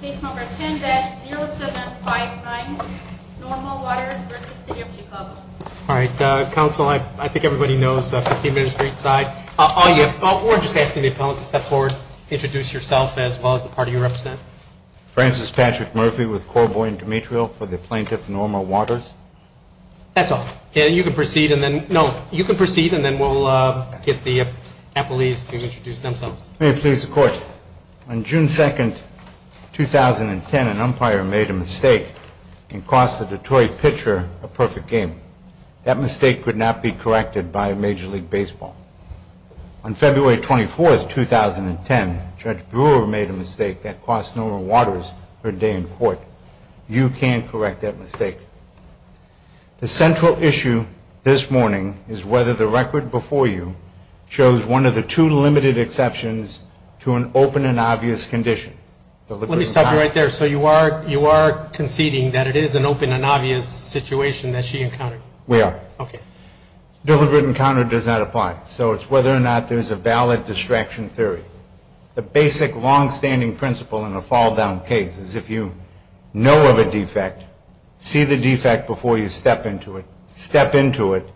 Case number 10-0759, Normal Waters v. City of Chicago. All right. Counsel, I think everybody knows 15 minutes for each side. We're just asking the appellant to step forward, introduce yourself as well as the party you represent. Francis Patrick Murphy with Corboy and Demetrio for the plaintiff, Normal Waters. That's all. You can proceed and then we'll get the appellees to introduce themselves. May it please the Court. On June 2, 2010, an umpire made a mistake and cost the Detroit pitcher a perfect game. That mistake could not be corrected by a Major League Baseball. On February 24, 2010, Judge Brewer made a mistake that cost Normal Waters her day in court. You can correct that mistake. The central issue this morning is whether the record before you shows one of the two limited exceptions to an open and obvious condition. Let me stop you right there. So you are conceding that it is an open and obvious situation that she encountered? We are. Okay. Deliberate encounter does not apply. So it's whether or not there's a valid distraction theory. The basic long-standing principle in a fall-down case is if you know of a defect, see the defect before you step into it, step into it,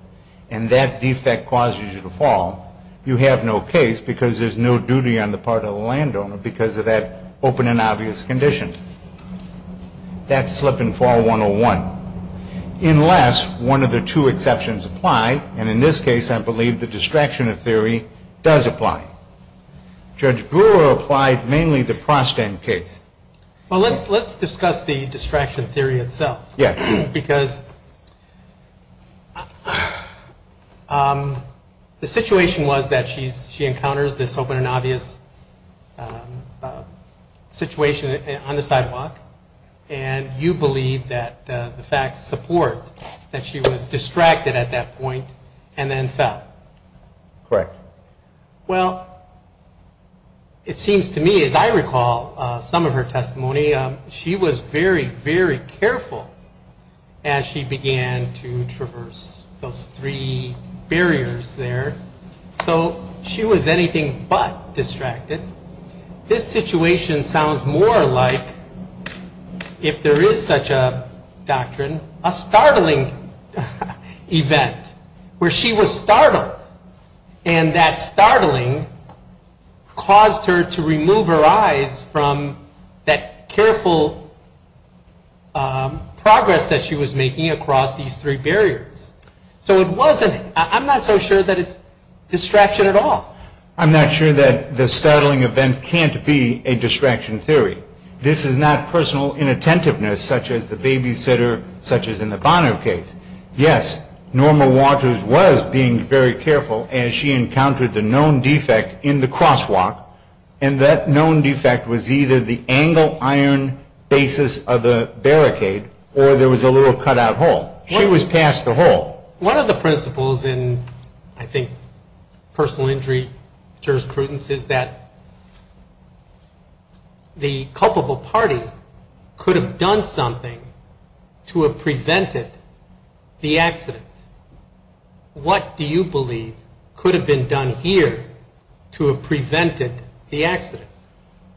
and that defect causes you to fall, you have no case because there's no duty on the part of the landowner because of that open and obvious condition. That's slip-and-fall 101. Unless one of the two exceptions apply, and in this case I believe the distraction theory does apply. Judge Brewer applied mainly the Prostend case. Well, let's discuss the distraction theory itself. Yeah. Because the situation was that she encounters this open and obvious situation on the sidewalk, and you believe that the facts support that she was distracted at that point and then fell. Correct. Well, it seems to me, as I recall some of her testimony, she was very, very careful as she began to traverse those three barriers there. So she was anything but distracted. This situation sounds more like, if there is such a doctrine, a startling event where she was startled and that startling caused her to remove her eyes from that careful progress that she was making across these three barriers. So it wasn't, I'm not so sure that it's distraction at all. I'm not sure that the startling event can't be a distraction theory. This is not personal inattentiveness such as the babysitter, such as in the Bono case. Yes, Norma Waters was being very careful as she encountered the known defect in the crosswalk, and that known defect was either the angle iron basis of the barricade or there was a little cutout hole. She was past the hole. One of the principles in, I think, personal injury jurisprudence is that the culpable party could have done something to have prevented the accident. What do you believe could have been done here to have prevented the accident?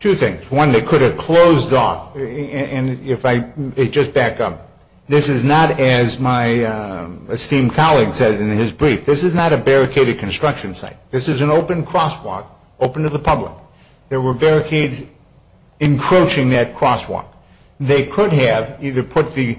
Two things. One, they could have closed off, and if I just back up. This is not, as my esteemed colleague said in his brief, this is not a barricaded construction site. This is an open crosswalk open to the public. There were barricades encroaching that crosswalk. They could have either put the,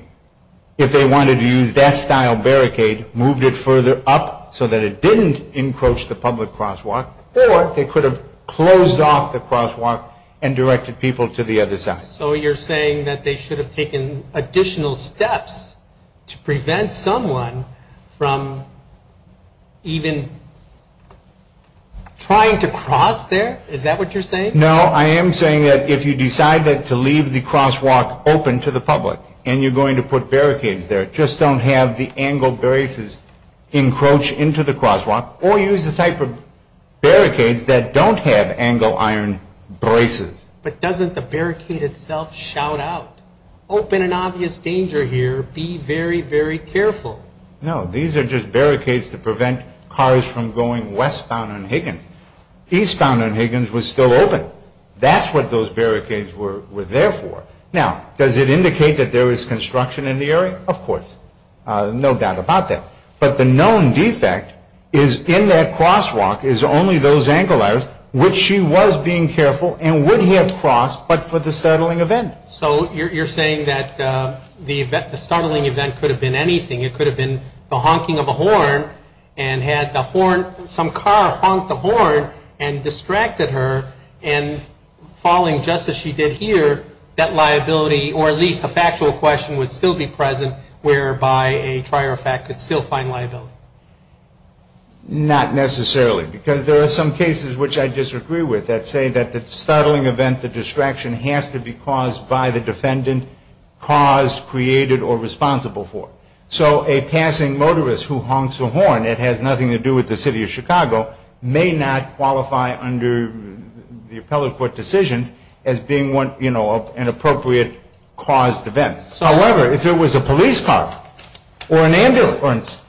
if they wanted to use that style of barricade, moved it further up so that it didn't encroach the public crosswalk, or they could have closed off the crosswalk and directed people to the other side. So you're saying that they should have taken additional steps to prevent someone from even trying to cross there? Is that what you're saying? No, I am saying that if you decide to leave the crosswalk open to the public, and you're going to put barricades there, just don't have the angled braces encroach into the crosswalk, or use the type of barricades that don't have angled iron braces. But doesn't the barricade itself shout out, open an obvious danger here, be very, very careful? No, these are just barricades to prevent cars from going westbound on Higgins. Eastbound on Higgins was still open. That's what those barricades were there for. Now, does it indicate that there was construction in the area? Of course. No doubt about that. But the known defect is in that crosswalk is only those angled irons, which she was being careful, and would have crossed, but for the startling event. So you're saying that the startling event could have been anything. It could have been the honking of a horn, and had the horn, some car honked the horn, and distracted her, and following just as she did here, that liability, or at least a factual question would still be present, whereby a trier of fact could still find liability. Not necessarily, because there are some cases which I disagree with that say that the startling event, the distraction, has to be caused by the defendant, caused, created, or responsible for. So a passing motorist who honks a horn, it has nothing to do with the city of Chicago, may not qualify under the appellate court decisions as being an appropriate caused event. However, if it was a police car, or an ambulance,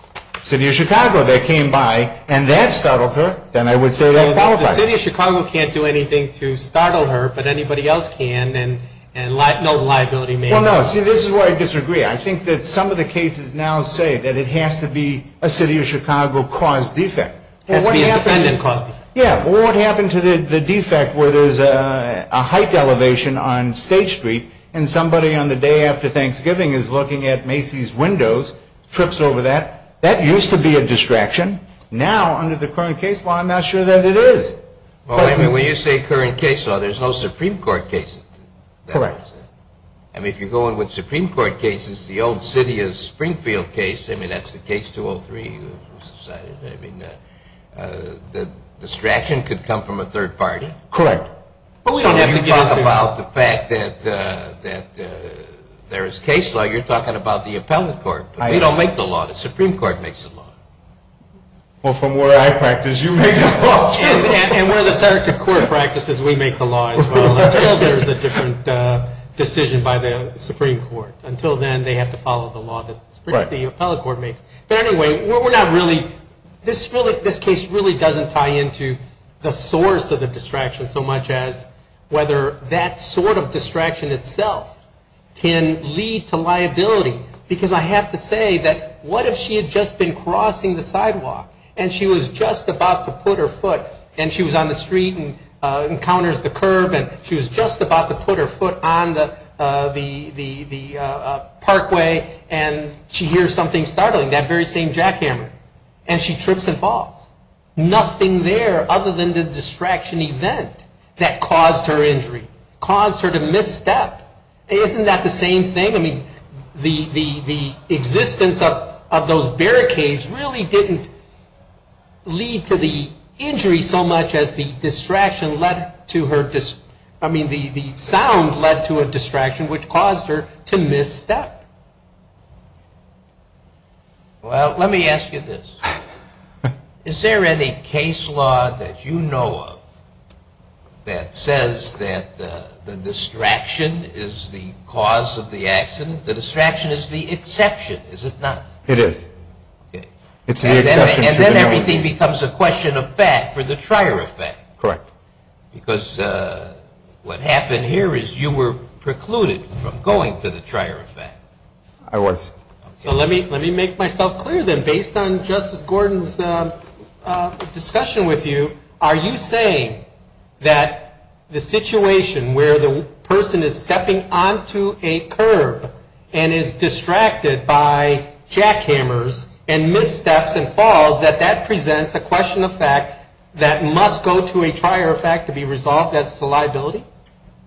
city of Chicago that came by, and that startled her, then I would say that qualifies. The city of Chicago can't do anything to startle her, but anybody else can, and no liability may apply. Well, no, see, this is where I disagree. I think that some of the cases now say that it has to be a city of Chicago caused defect. It has to be a defendant caused defect. Yeah, well, what happened to the defect where there's a height elevation on State Street, and somebody on the day after Thanksgiving is looking at Macy's windows, trips over that? That used to be a distraction. Now, under the current case law, I'm not sure that it is. Well, I mean, when you say current case law, there's no Supreme Court cases. Correct. I mean, if you go in with Supreme Court cases, the old city of Springfield case, I mean, that's the case 203, I mean, the distraction could come from a third party. Correct. So when you talk about the fact that there is case law, you're talking about the appellate court. We don't make the law. The Supreme Court makes the law. Well, from where I practice, you make the law too. And where the circuit court practices, we make the law as well, until there's a different decision by the Supreme Court. Until then, they have to follow the law that the appellate court makes. But anyway, we're not really – this case really doesn't tie into the source of the distraction so much as whether that sort of distraction itself can lead to liability, because I have to say that what if she had just been crossing the sidewalk and she was just about to put her foot and she was on the street and encounters the curb and she was just about to put her foot on the parkway and she hears something startling, that very same jackhammer, and she trips and falls. Nothing there other than the distraction event that caused her injury, caused her to misstep. Isn't that the same thing? I mean, the existence of those barricades really didn't lead to the injury so much as the distraction led to her – I mean, the sound led to a distraction which caused her to misstep. Well, let me ask you this. Is there any case law that you know of that says that the distraction is the cause of the accident? The distraction is the exception, is it not? It is. It's the exception to the norm. And then everything becomes a question of fact for the trier effect. Correct. Because what happened here is you were precluded from going to the trier effect. I was. So let me make myself clear then. Based on Justice Gordon's discussion with you, are you saying that the situation where the person is stepping onto a curb and is distracted by jackhammers and missteps and falls, that that presents a question of fact that must go to a trier effect to be resolved as to liability?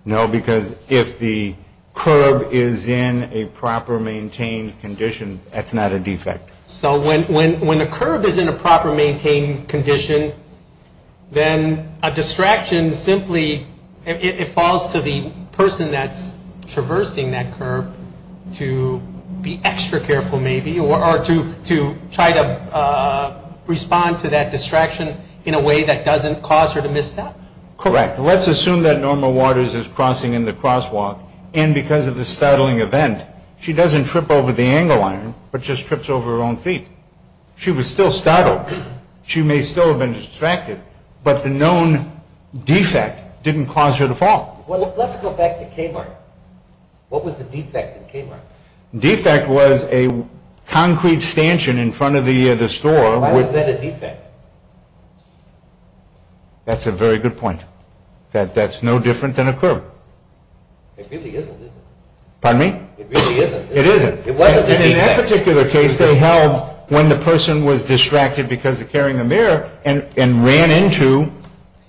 No, because if the curb is in a proper maintained condition, that's not a defect. So when a curb is in a proper maintained condition, then a distraction simply falls to the person that's traversing that curb to be extra careful maybe or to try to respond to that distraction in a way that doesn't cause her to misstep? Correct. Let's assume that Norma Waters is crossing in the crosswalk, and because of the startling event, she doesn't trip over the angle iron, but just trips over her own feet. She was still startled. She may still have been distracted, but the known defect didn't cause her to fall. Well, let's go back to Kmart. What was the defect in Kmart? The defect was a concrete stanchion in front of the store. Why was that a defect? That's a very good point. That's no different than a curb. It really isn't, is it? Pardon me? It really isn't. It isn't. In that particular case, they held when the person was distracted because of carrying the mirror and ran into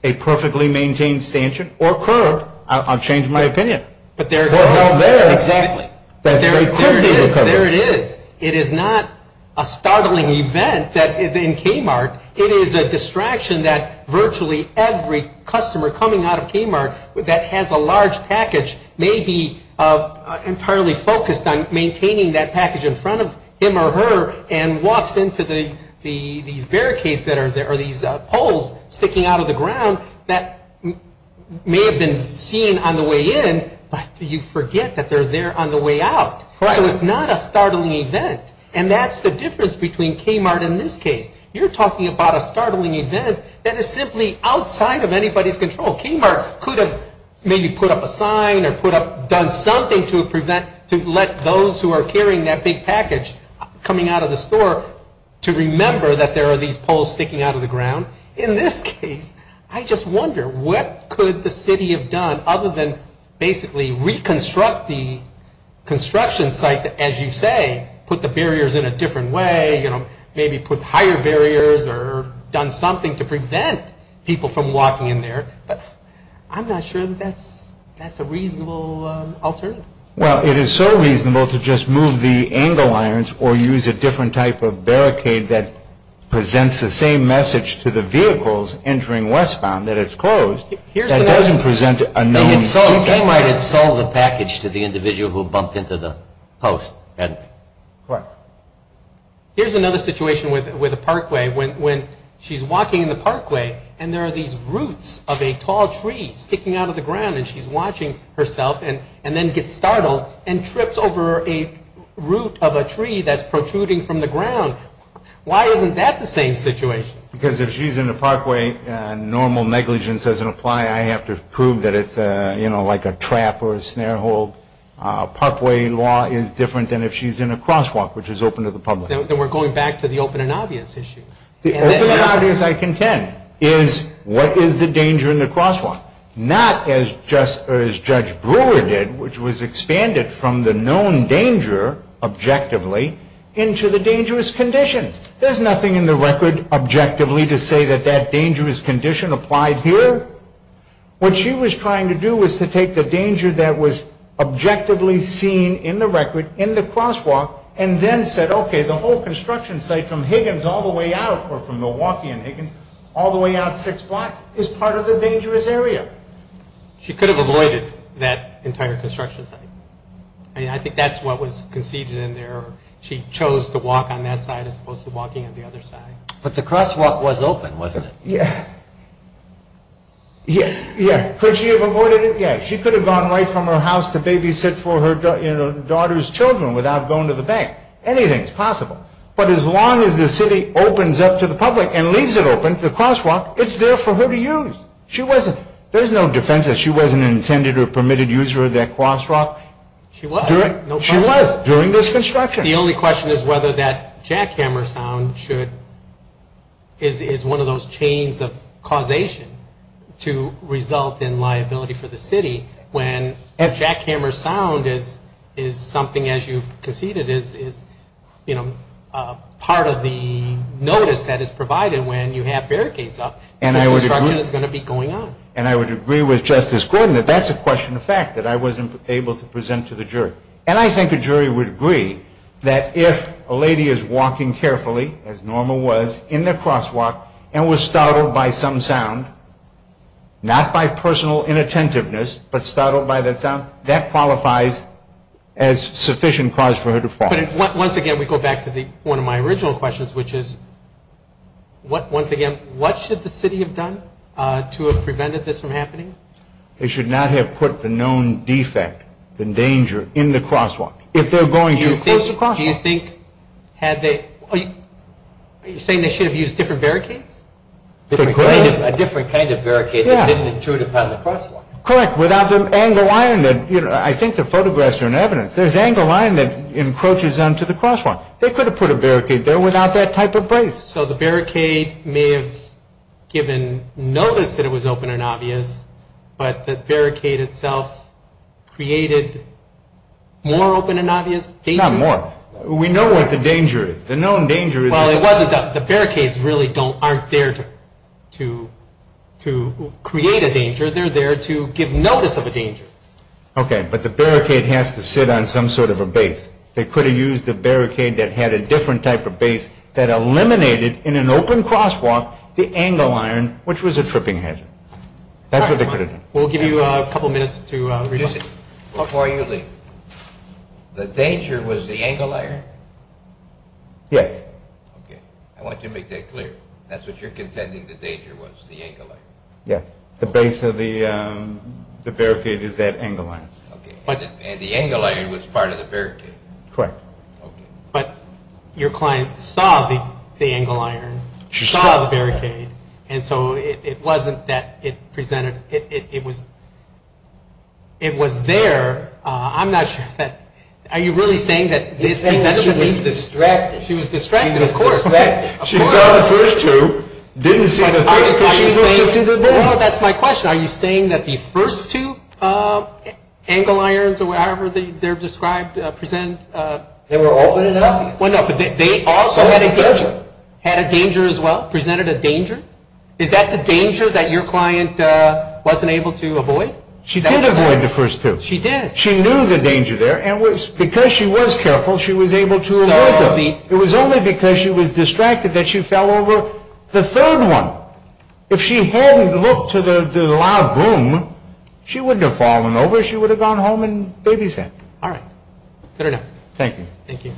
a perfectly maintained stanchion or curb. I'll change my opinion. But there it is. Well, there it is. Exactly. There it is. There it is. It is not a startling event in Kmart. It is a distraction that virtually every customer coming out of Kmart that has a large package may be entirely focused on maintaining that package in front of him or her and walks into these barricades that are these poles sticking out of the ground that may have been seen on the way in, but you forget that they're there on the way out. So it's not a startling event. And that's the difference between Kmart in this case. You're talking about a startling event that is simply outside of anybody's control. Kmart could have maybe put up a sign or done something to prevent, to let those who are carrying that big package coming out of the store to remember that there are these poles sticking out of the ground. In this case, I just wonder what could the city have done other than basically reconstruct the construction site, as you say, put the barriers in a different way, maybe put higher barriers or done something to prevent people from walking in there. But I'm not sure that that's a reasonable alternative. Well, it is so reasonable to just move the angle irons or use a different type of barricade that presents the same message to the vehicles entering westbound that it's closed. That doesn't present a known issue. They might have sold the package to the individual who bumped into the post. Correct. Here's another situation with a parkway. When she's walking in the parkway and there are these roots of a tall tree sticking out of the ground and she's watching herself and then gets startled and trips over a root of a tree that's protruding from the ground. Why isn't that the same situation? Because if she's in the parkway, normal negligence doesn't apply. I have to prove that it's like a trap or a snare hole. Parkway law is different than if she's in a crosswalk, which is open to the public. Then we're going back to the open and obvious issue. The open and obvious, I contend, is what is the danger in the crosswalk? Not as Judge Brewer did, which was expanded from the known danger objectively into the dangerous condition. There's nothing in the record objectively to say that that dangerous condition applied here. What she was trying to do was to take the danger that was objectively seen in the record in the crosswalk and then said, okay, the whole construction site from Higgins all the way out or from Milwaukee and Higgins all the way out six blocks is part of the dangerous area. She could have avoided that entire construction site. I think that's what was conceded in there. She chose to walk on that side as opposed to walking on the other side. But the crosswalk was open, wasn't it? Yeah. Could she have avoided it? Yeah, she could have gone right from her house to babysit for her daughter's children without going to the bank. Anything is possible. But as long as the city opens up to the public and leaves it open, the crosswalk, it's there for her to use. There's no defense that she wasn't intended or permitted to use that crosswalk. She was. During this construction. The only question is whether that jackhammer sound is one of those chains of causation to result in liability for the city when a jackhammer sound is something, as you've conceded, is part of the notice that is provided when you have barricades up. This construction is going to be going on. And I would agree with Justice Gordon that that's a question of fact, that I wasn't able to present to the jury. And I think a jury would agree that if a lady is walking carefully, as normal was, in the crosswalk and was startled by some sound, not by personal inattentiveness, but startled by that sound, that qualifies as sufficient cause for her to fall. Once again, we go back to one of my original questions, which is, once again, what should the city have done to have prevented this from happening? They should not have put the known defect, the danger, in the crosswalk. If they're going to close the crosswalk. Do you think they should have used different barricades? A different kind of barricade that didn't intrude upon the crosswalk. Correct, without the angle line. I think the photographs are an evidence. There's angle line that encroaches onto the crosswalk. They could have put a barricade there without that type of brace. So the barricade may have given notice that it was open and obvious, but the barricade itself created more open and obvious danger? Not more. We know what the danger is. The known danger is. Well, it wasn't. The barricades really aren't there to create a danger. They're there to give notice of a danger. Okay, but the barricade has to sit on some sort of a base. They could have used a barricade that had a different type of base that eliminated in an open crosswalk the angle iron, which was a tripping hazard. That's what they could have done. We'll give you a couple minutes to review. Before you leave, the danger was the angle iron? Yes. Okay. I want you to make that clear. That's what you're contending the danger was, the angle iron? Yes. The base of the barricade is that angle iron. And the angle iron was part of the barricade. Correct. Okay. But your client saw the angle iron, saw the barricade, and so it wasn't that it presented – it was there. I'm not sure. Are you really saying that she was distracted? She was distracted, of course. She saw the first two, didn't see the third because she didn't see the third? No, that's my question. Are you saying that the first two angle irons, or however they're described, present – They were open and obvious. Well, no, but they also had a danger as well, presented a danger. Is that the danger that your client wasn't able to avoid? She did avoid the first two. She did. She knew the danger there, and because she was careful, she was able to avoid them. It was only because she was distracted that she fell over the third one. If she hadn't looked to the loud boom, she wouldn't have fallen over. She would have gone home and babysat. All right. Cut her down. Thank you. Thank you.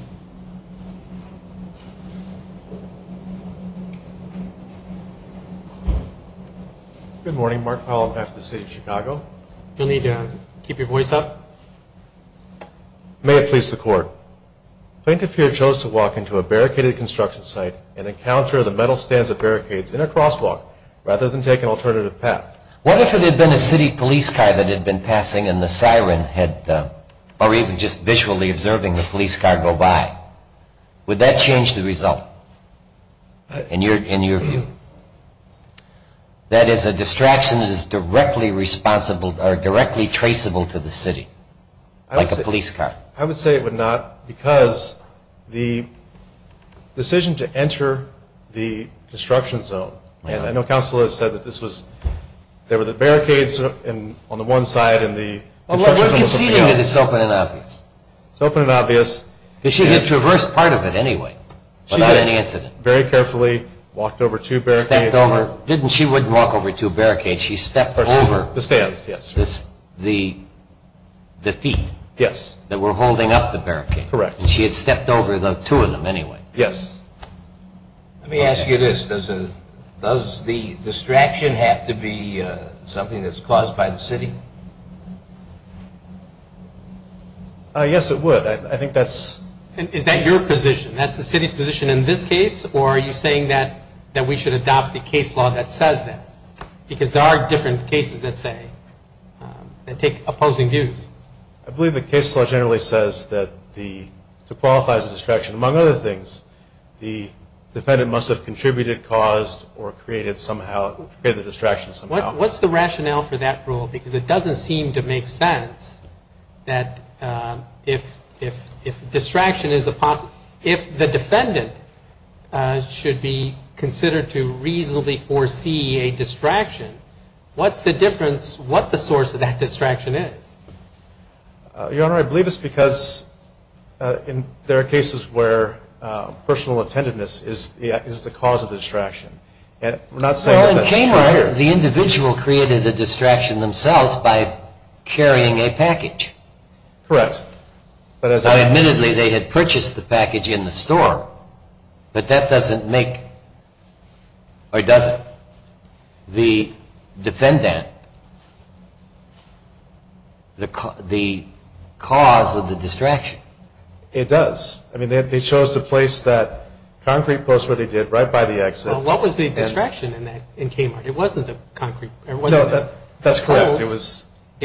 Good morning. Mark Powell of FTC Chicago. You'll need to keep your voice up. May it please the Court. Plaintiff here chose to walk into a barricaded construction site and encounter the metal stands of barricades in a crosswalk rather than take an alternative path. What if it had been a city police car that had been passing and the siren had – or even just visually observing the police car go by? Would that change the result in your view? That is, a distraction that is directly traceable to the city, like a police car? I would say it would not because the decision to enter the destruction zone, and I know counsel has said that this was – there were the barricades on the one side and the – Well, we're conceding that it's open and obvious. It's open and obvious. Because she had traversed part of it anyway without any incident. She did, very carefully, walked over two barricades. Stepped over – she wouldn't walk over two barricades. She stepped over – The stands, yes. The feet. Yes. That were holding up the barricade. Correct. And she had stepped over the two of them anyway. Yes. Let me ask you this. Does the distraction have to be something that's caused by the city? Yes, it would. I think that's – Is that your position? That's the city's position in this case? Or are you saying that we should adopt the case law that says that? Because there are different cases that say – that take opposing views. I believe the case law generally says that the – to qualify as a distraction, among other things, the defendant must have contributed, caused, or created somehow – created the distraction somehow. What's the rationale for that rule? Because it doesn't seem to make sense that if distraction is a – if the defendant should be considered to reasonably foresee a distraction, what's the difference what the source of that distraction is? Your Honor, I believe it's because there are cases where personal attentiveness is the cause of the distraction. We're not saying that that's true. Well, in Kmart, the individual created the distraction themselves by carrying a package. Correct. Now, admittedly, they had purchased the package in the store, but that doesn't make – or does it? The defendant, the cause of the distraction. It does. I mean, they chose to place that concrete post where they did, right by the exit. Well, what was the distraction in Kmart? It wasn't the concrete. No, that's correct. It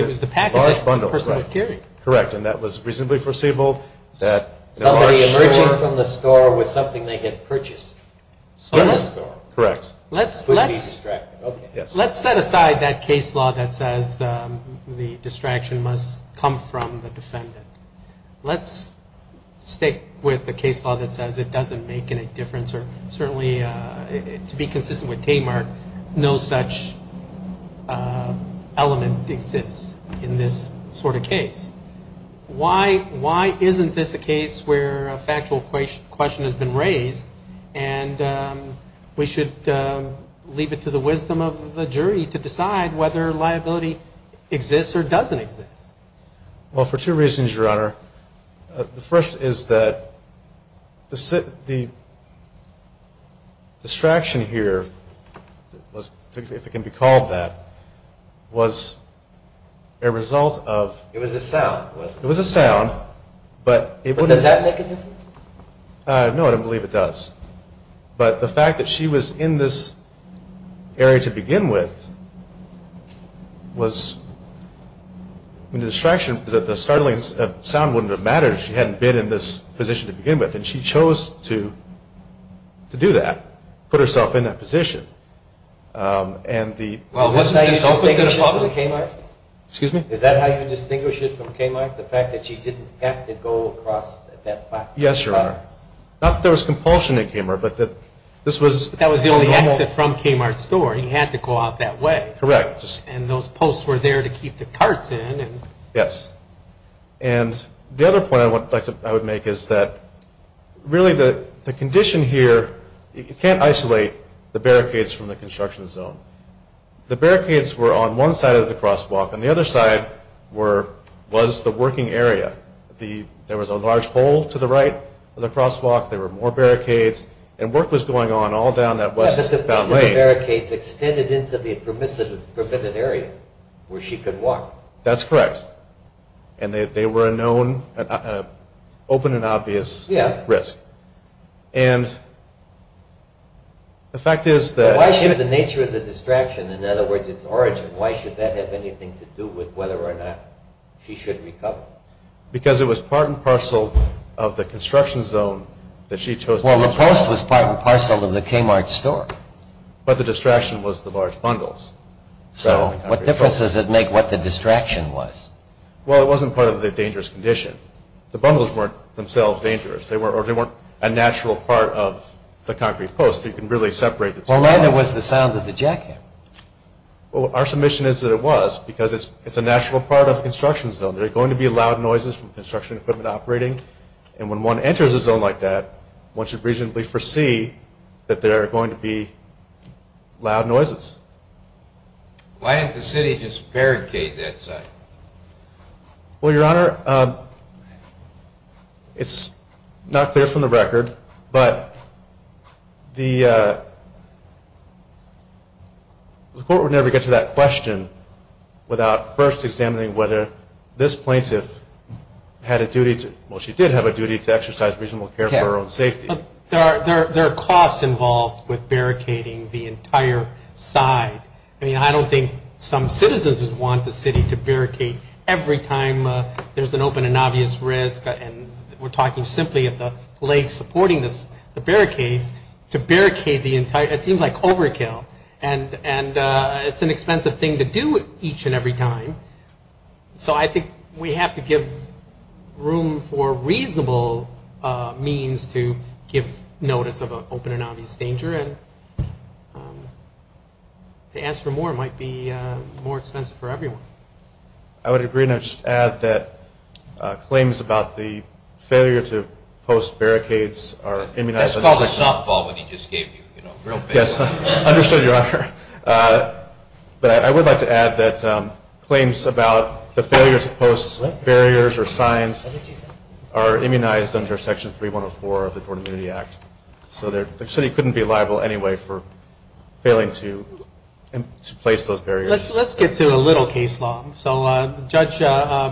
was the package that the person was carrying. Correct, and that was reasonably foreseeable. Somebody emerging from the store with something they had purchased. Correct. Let's set aside that case law that says the distraction must come from the defendant. Let's stick with the case law that says it doesn't make any difference, or certainly, to be consistent with Kmart, no such element exists in this sort of case. Why isn't this a case where a factual question has been raised and we should leave it to the wisdom of the jury to decide whether liability exists or doesn't exist? The first is that the distraction here, if it can be called that, was a result of – It was a sound, wasn't it? It was a sound, but it wouldn't – But does that make a difference? No, I don't believe it does. But the fact that she was in this area to begin with was – I mean, the distraction, the startling sound wouldn't have mattered if she hadn't been in this position to begin with, and she chose to do that, put herself in that position. And the – Well, wasn't that how you distinguished it from Kmart? Excuse me? Is that how you distinguished it from Kmart, the fact that she didn't have to go across that – Yes, Your Honor. Not that there was compulsion in Kmart, but that this was – That was the only exit from Kmart's store. He had to go out that way. Correct. And those posts were there to keep the carts in. Yes. And the other point I would make is that really the condition here – you can't isolate the barricades from the construction zone. The barricades were on one side of the crosswalk, and the other side was the working area. There was a large pole to the right of the crosswalk. There were more barricades, and work was going on all down that westbound lane. The barricades extended into the permitted area where she could walk. That's correct. And they were a known, open and obvious risk. Yes. And the fact is that – Why should the nature of the distraction – in other words, its origin – why should that have anything to do with whether or not she should recover? Well, the post was part and parcel of the Kmart store. But the distraction was the large bundles. So what difference does it make what the distraction was? Well, it wasn't part of the dangerous condition. The bundles weren't themselves dangerous, or they weren't a natural part of the concrete post. You can really separate the two. Well, then it was the sound of the jackhammer. Well, our submission is that it was because it's a natural part of the construction zone. There are going to be loud noises from construction equipment operating, and when one enters a zone like that, one should reasonably foresee that there are going to be loud noises. Why didn't the city just barricade that site? Well, Your Honor, it's not clear from the record, but the court would never get to that question without first examining whether this plaintiff had a duty to – well, she did have a duty to exercise reasonable care for her own safety. There are costs involved with barricading the entire site. I mean, I don't think some citizens would want the city to barricade every time there's an open and obvious risk, and we're talking simply of the lake supporting the barricades, to barricade the entire – it seems like overkill. And it's an expensive thing to do each and every time, so I think we have to give room for reasonable means to give notice of an open and obvious danger, and to ask for more might be more expensive for everyone. I would agree, and I would just add that claims about the failure to post barricades are immunized. Yes, I understood, Your Honor. But I would like to add that claims about the failure to post barriers or signs are immunized under Section 3104 of the Tort Immunity Act. So the city couldn't be liable anyway for failing to place those barriers. Let's get to a little case law. So Judge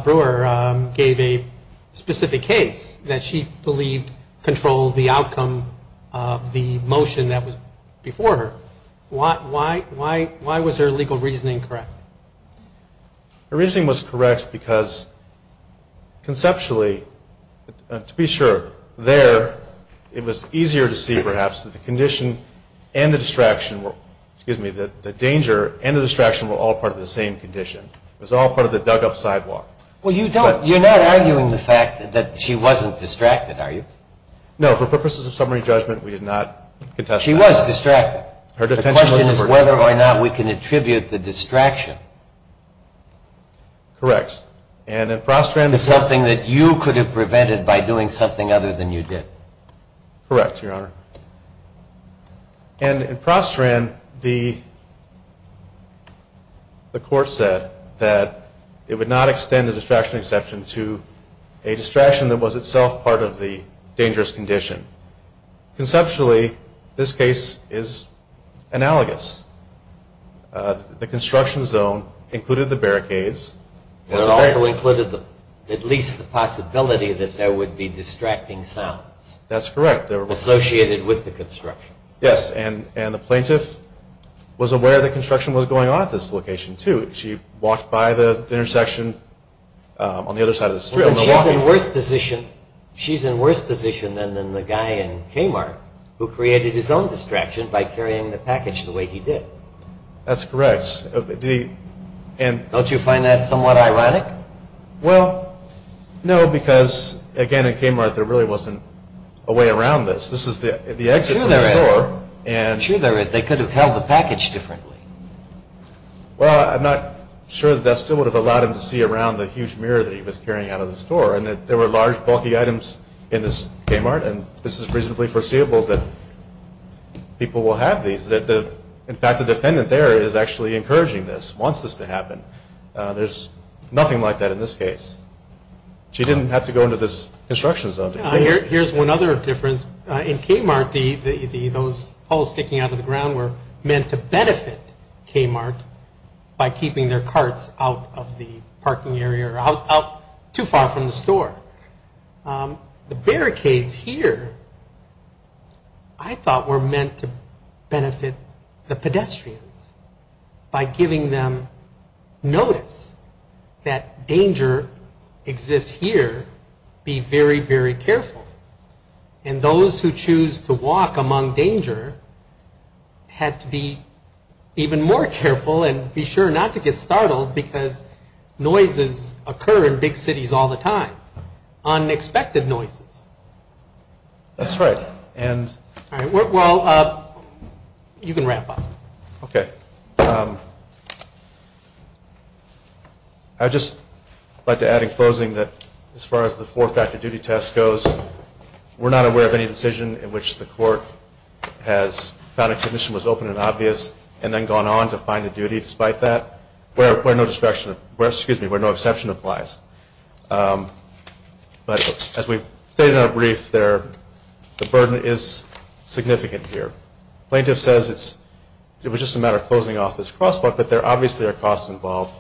Brewer gave a specific case that she believed controlled the outcome of the motion that was before her. Why was her legal reasoning correct? Her reasoning was correct because conceptually, to be sure, there it was easier to see perhaps that the condition and the distraction – excuse me, the danger and the distraction were all part of the same condition. It was all part of the dug-up sidewalk. Well, you're not arguing the fact that she wasn't distracted, are you? No. For purposes of summary judgment, we did not contest that. She was distracted. The question is whether or not we can attribute the distraction to something that you could have prevented by doing something other than you did. Correct, Your Honor. And in Prostrand, the court said that it would not extend the distraction exception to a distraction that was itself part of the dangerous condition. Conceptually, this case is analogous. The construction zone included the barricades. But it also included at least the possibility that there would be distracting sounds. That's correct. Associated with the construction. Yes. And the plaintiff was aware that construction was going on at this location, too. She walked by the intersection on the other side of the street. She's in worse position than the guy in Kmart who created his own distraction by carrying the package the way he did. That's correct. Don't you find that somewhat ironic? Well, no, because, again, in Kmart, there really wasn't a way around this. This is the exit from the store. Sure there is. They could have held the package differently. Well, I'm not sure that that still would have allowed him to see around the huge mirror that he was carrying out of the store. And there were large, bulky items in this Kmart, and this is reasonably foreseeable that people will have these. In fact, the defendant there is actually encouraging this, wants this to happen. There's nothing like that in this case. She didn't have to go into this construction zone. Here's one other difference. In Kmart, those poles sticking out of the ground were meant to benefit Kmart by keeping their carts out of the parking area or out too far from the store. The barricades here I thought were meant to benefit the pedestrians by giving them notice that danger exists here. Be very, very careful. And those who choose to walk among danger had to be even more careful and be sure not to get startled because noises occur in big cities all the time, unexpected noises. That's right. All right, well, you can wrap up. Okay. I'd just like to add in closing that as far as the four-factor duty test goes, we're not aware of any decision in which the court has found a condition was open and obvious and then gone on to find a duty despite that, where no exception applies. But as we've stated in our brief, the burden is significant here. Plaintiff says it was just a matter of closing off this crosswalk, but there obviously are costs involved.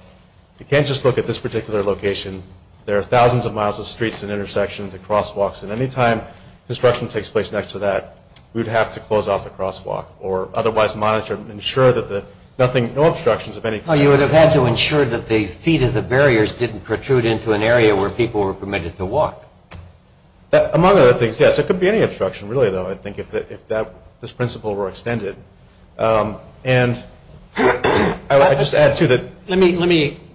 You can't just look at this particular location. There are thousands of miles of streets and intersections and crosswalks, and any time construction takes place next to that, we would have to close off the crosswalk or otherwise monitor and ensure that nothing, no obstructions of any kind. Well, you would have had to ensure that the feet of the barriers didn't protrude into an area where people were permitted to walk. Among other things, yes, there could be any obstruction really, though, I think, if this principle were extended. And I would just add to that.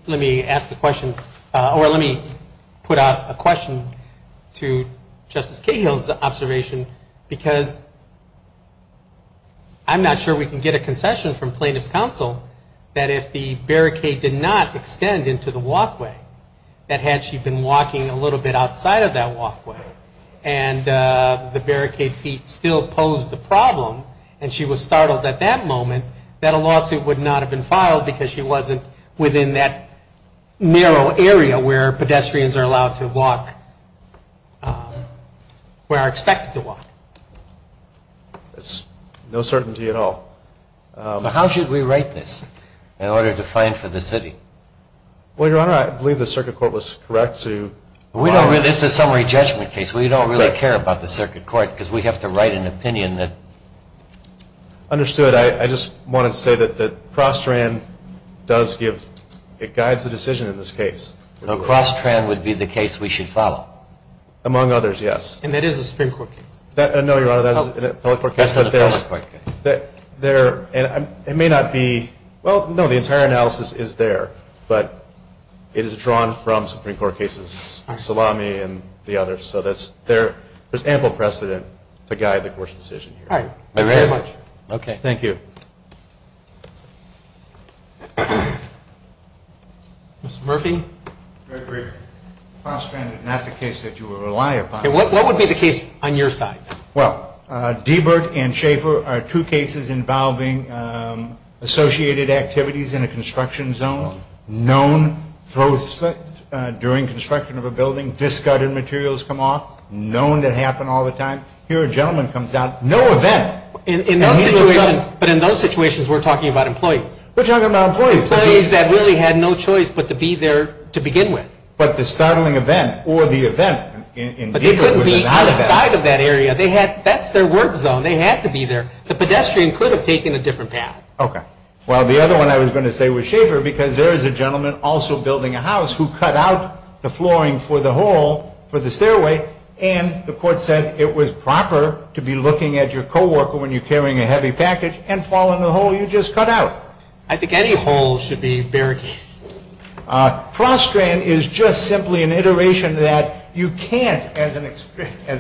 Let me ask a question, or let me put out a question to Justice Cahill's observation because I'm not sure we can get a concession from plaintiff's counsel that if the barricade did not extend into the walkway, that had she been walking a little bit outside of that walkway and the barricade feet still posed a problem and she was startled at that moment, that a lawsuit would not have been filed because she wasn't within that narrow area where pedestrians are allowed to walk, where are expected to walk. That's no certainty at all. So how should we write this in order to find for the city? Well, Your Honor, I believe the circuit court was correct to Well, this is a summary judgment case. We don't really care about the circuit court because we have to write an opinion that Understood. I just wanted to say that Crosstran does give, it guides the decision in this case. So Crosstran would be the case we should follow? Among others, yes. And that is a Supreme Court case? No, Your Honor, that is a public court case. It may not be, well, no, the entire analysis is there, but it is drawn from Supreme Court cases, Salami and the others, so there is ample precedent to guide the court's decision here. All right, thank you very much. Thank you. Mr. Murphy? Gregory, Crosstran is not the case that you would rely upon. What would be the case on your side? Well, Diebert and Schaefer are two cases involving associated activities in a construction zone, known throw slips during construction of a building, discarded materials come off, known that happen all the time. Here a gentleman comes out, no event. But in those situations we're talking about employees. We're talking about employees. Employees that really had no choice but to be there to begin with. The other side of that area, that's their work zone. They had to be there. The pedestrian could have taken a different path. Okay. Well, the other one I was going to say was Schaefer because there is a gentleman also building a house who cut out the flooring for the hole for the stairway, and the court said it was proper to be looking at your co-worker when you're carrying a heavy package and fall in the hole you just cut out. I think any hole should be barricaded. Prostrand is just simply an iteration that you can't, as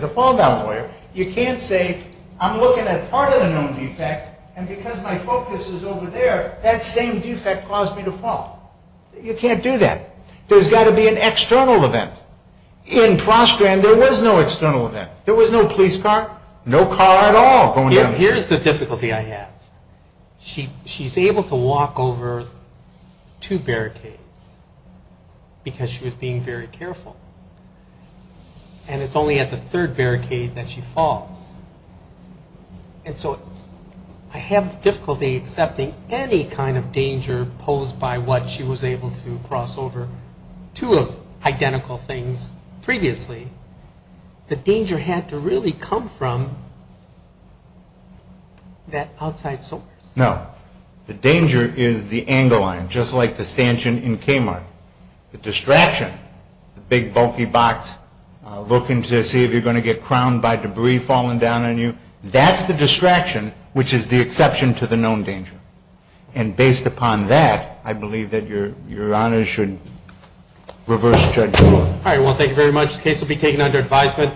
a fall down lawyer, you can't say I'm looking at part of the known defect, and because my focus is over there, that same defect caused me to fall. You can't do that. There's got to be an external event. In Prostrand there was no external event. There was no police car, no car at all going down there. Here's the difficulty I have. She's able to walk over two barricades because she was being very careful, and it's only at the third barricade that she falls. And so I have difficulty accepting any kind of danger posed by what she was able to do, cross over two identical things previously. The danger had to really come from that outside source. No. The danger is the angle line, just like the stanchion in Kmart. The distraction, the big bulky box, looking to see if you're going to get crowned by debris falling down on you, that's the distraction, which is the exception to the known danger. And based upon that, I believe that Your Honor should reverse judgment. All right. Well, thank you very much. The case will be taken under advisement.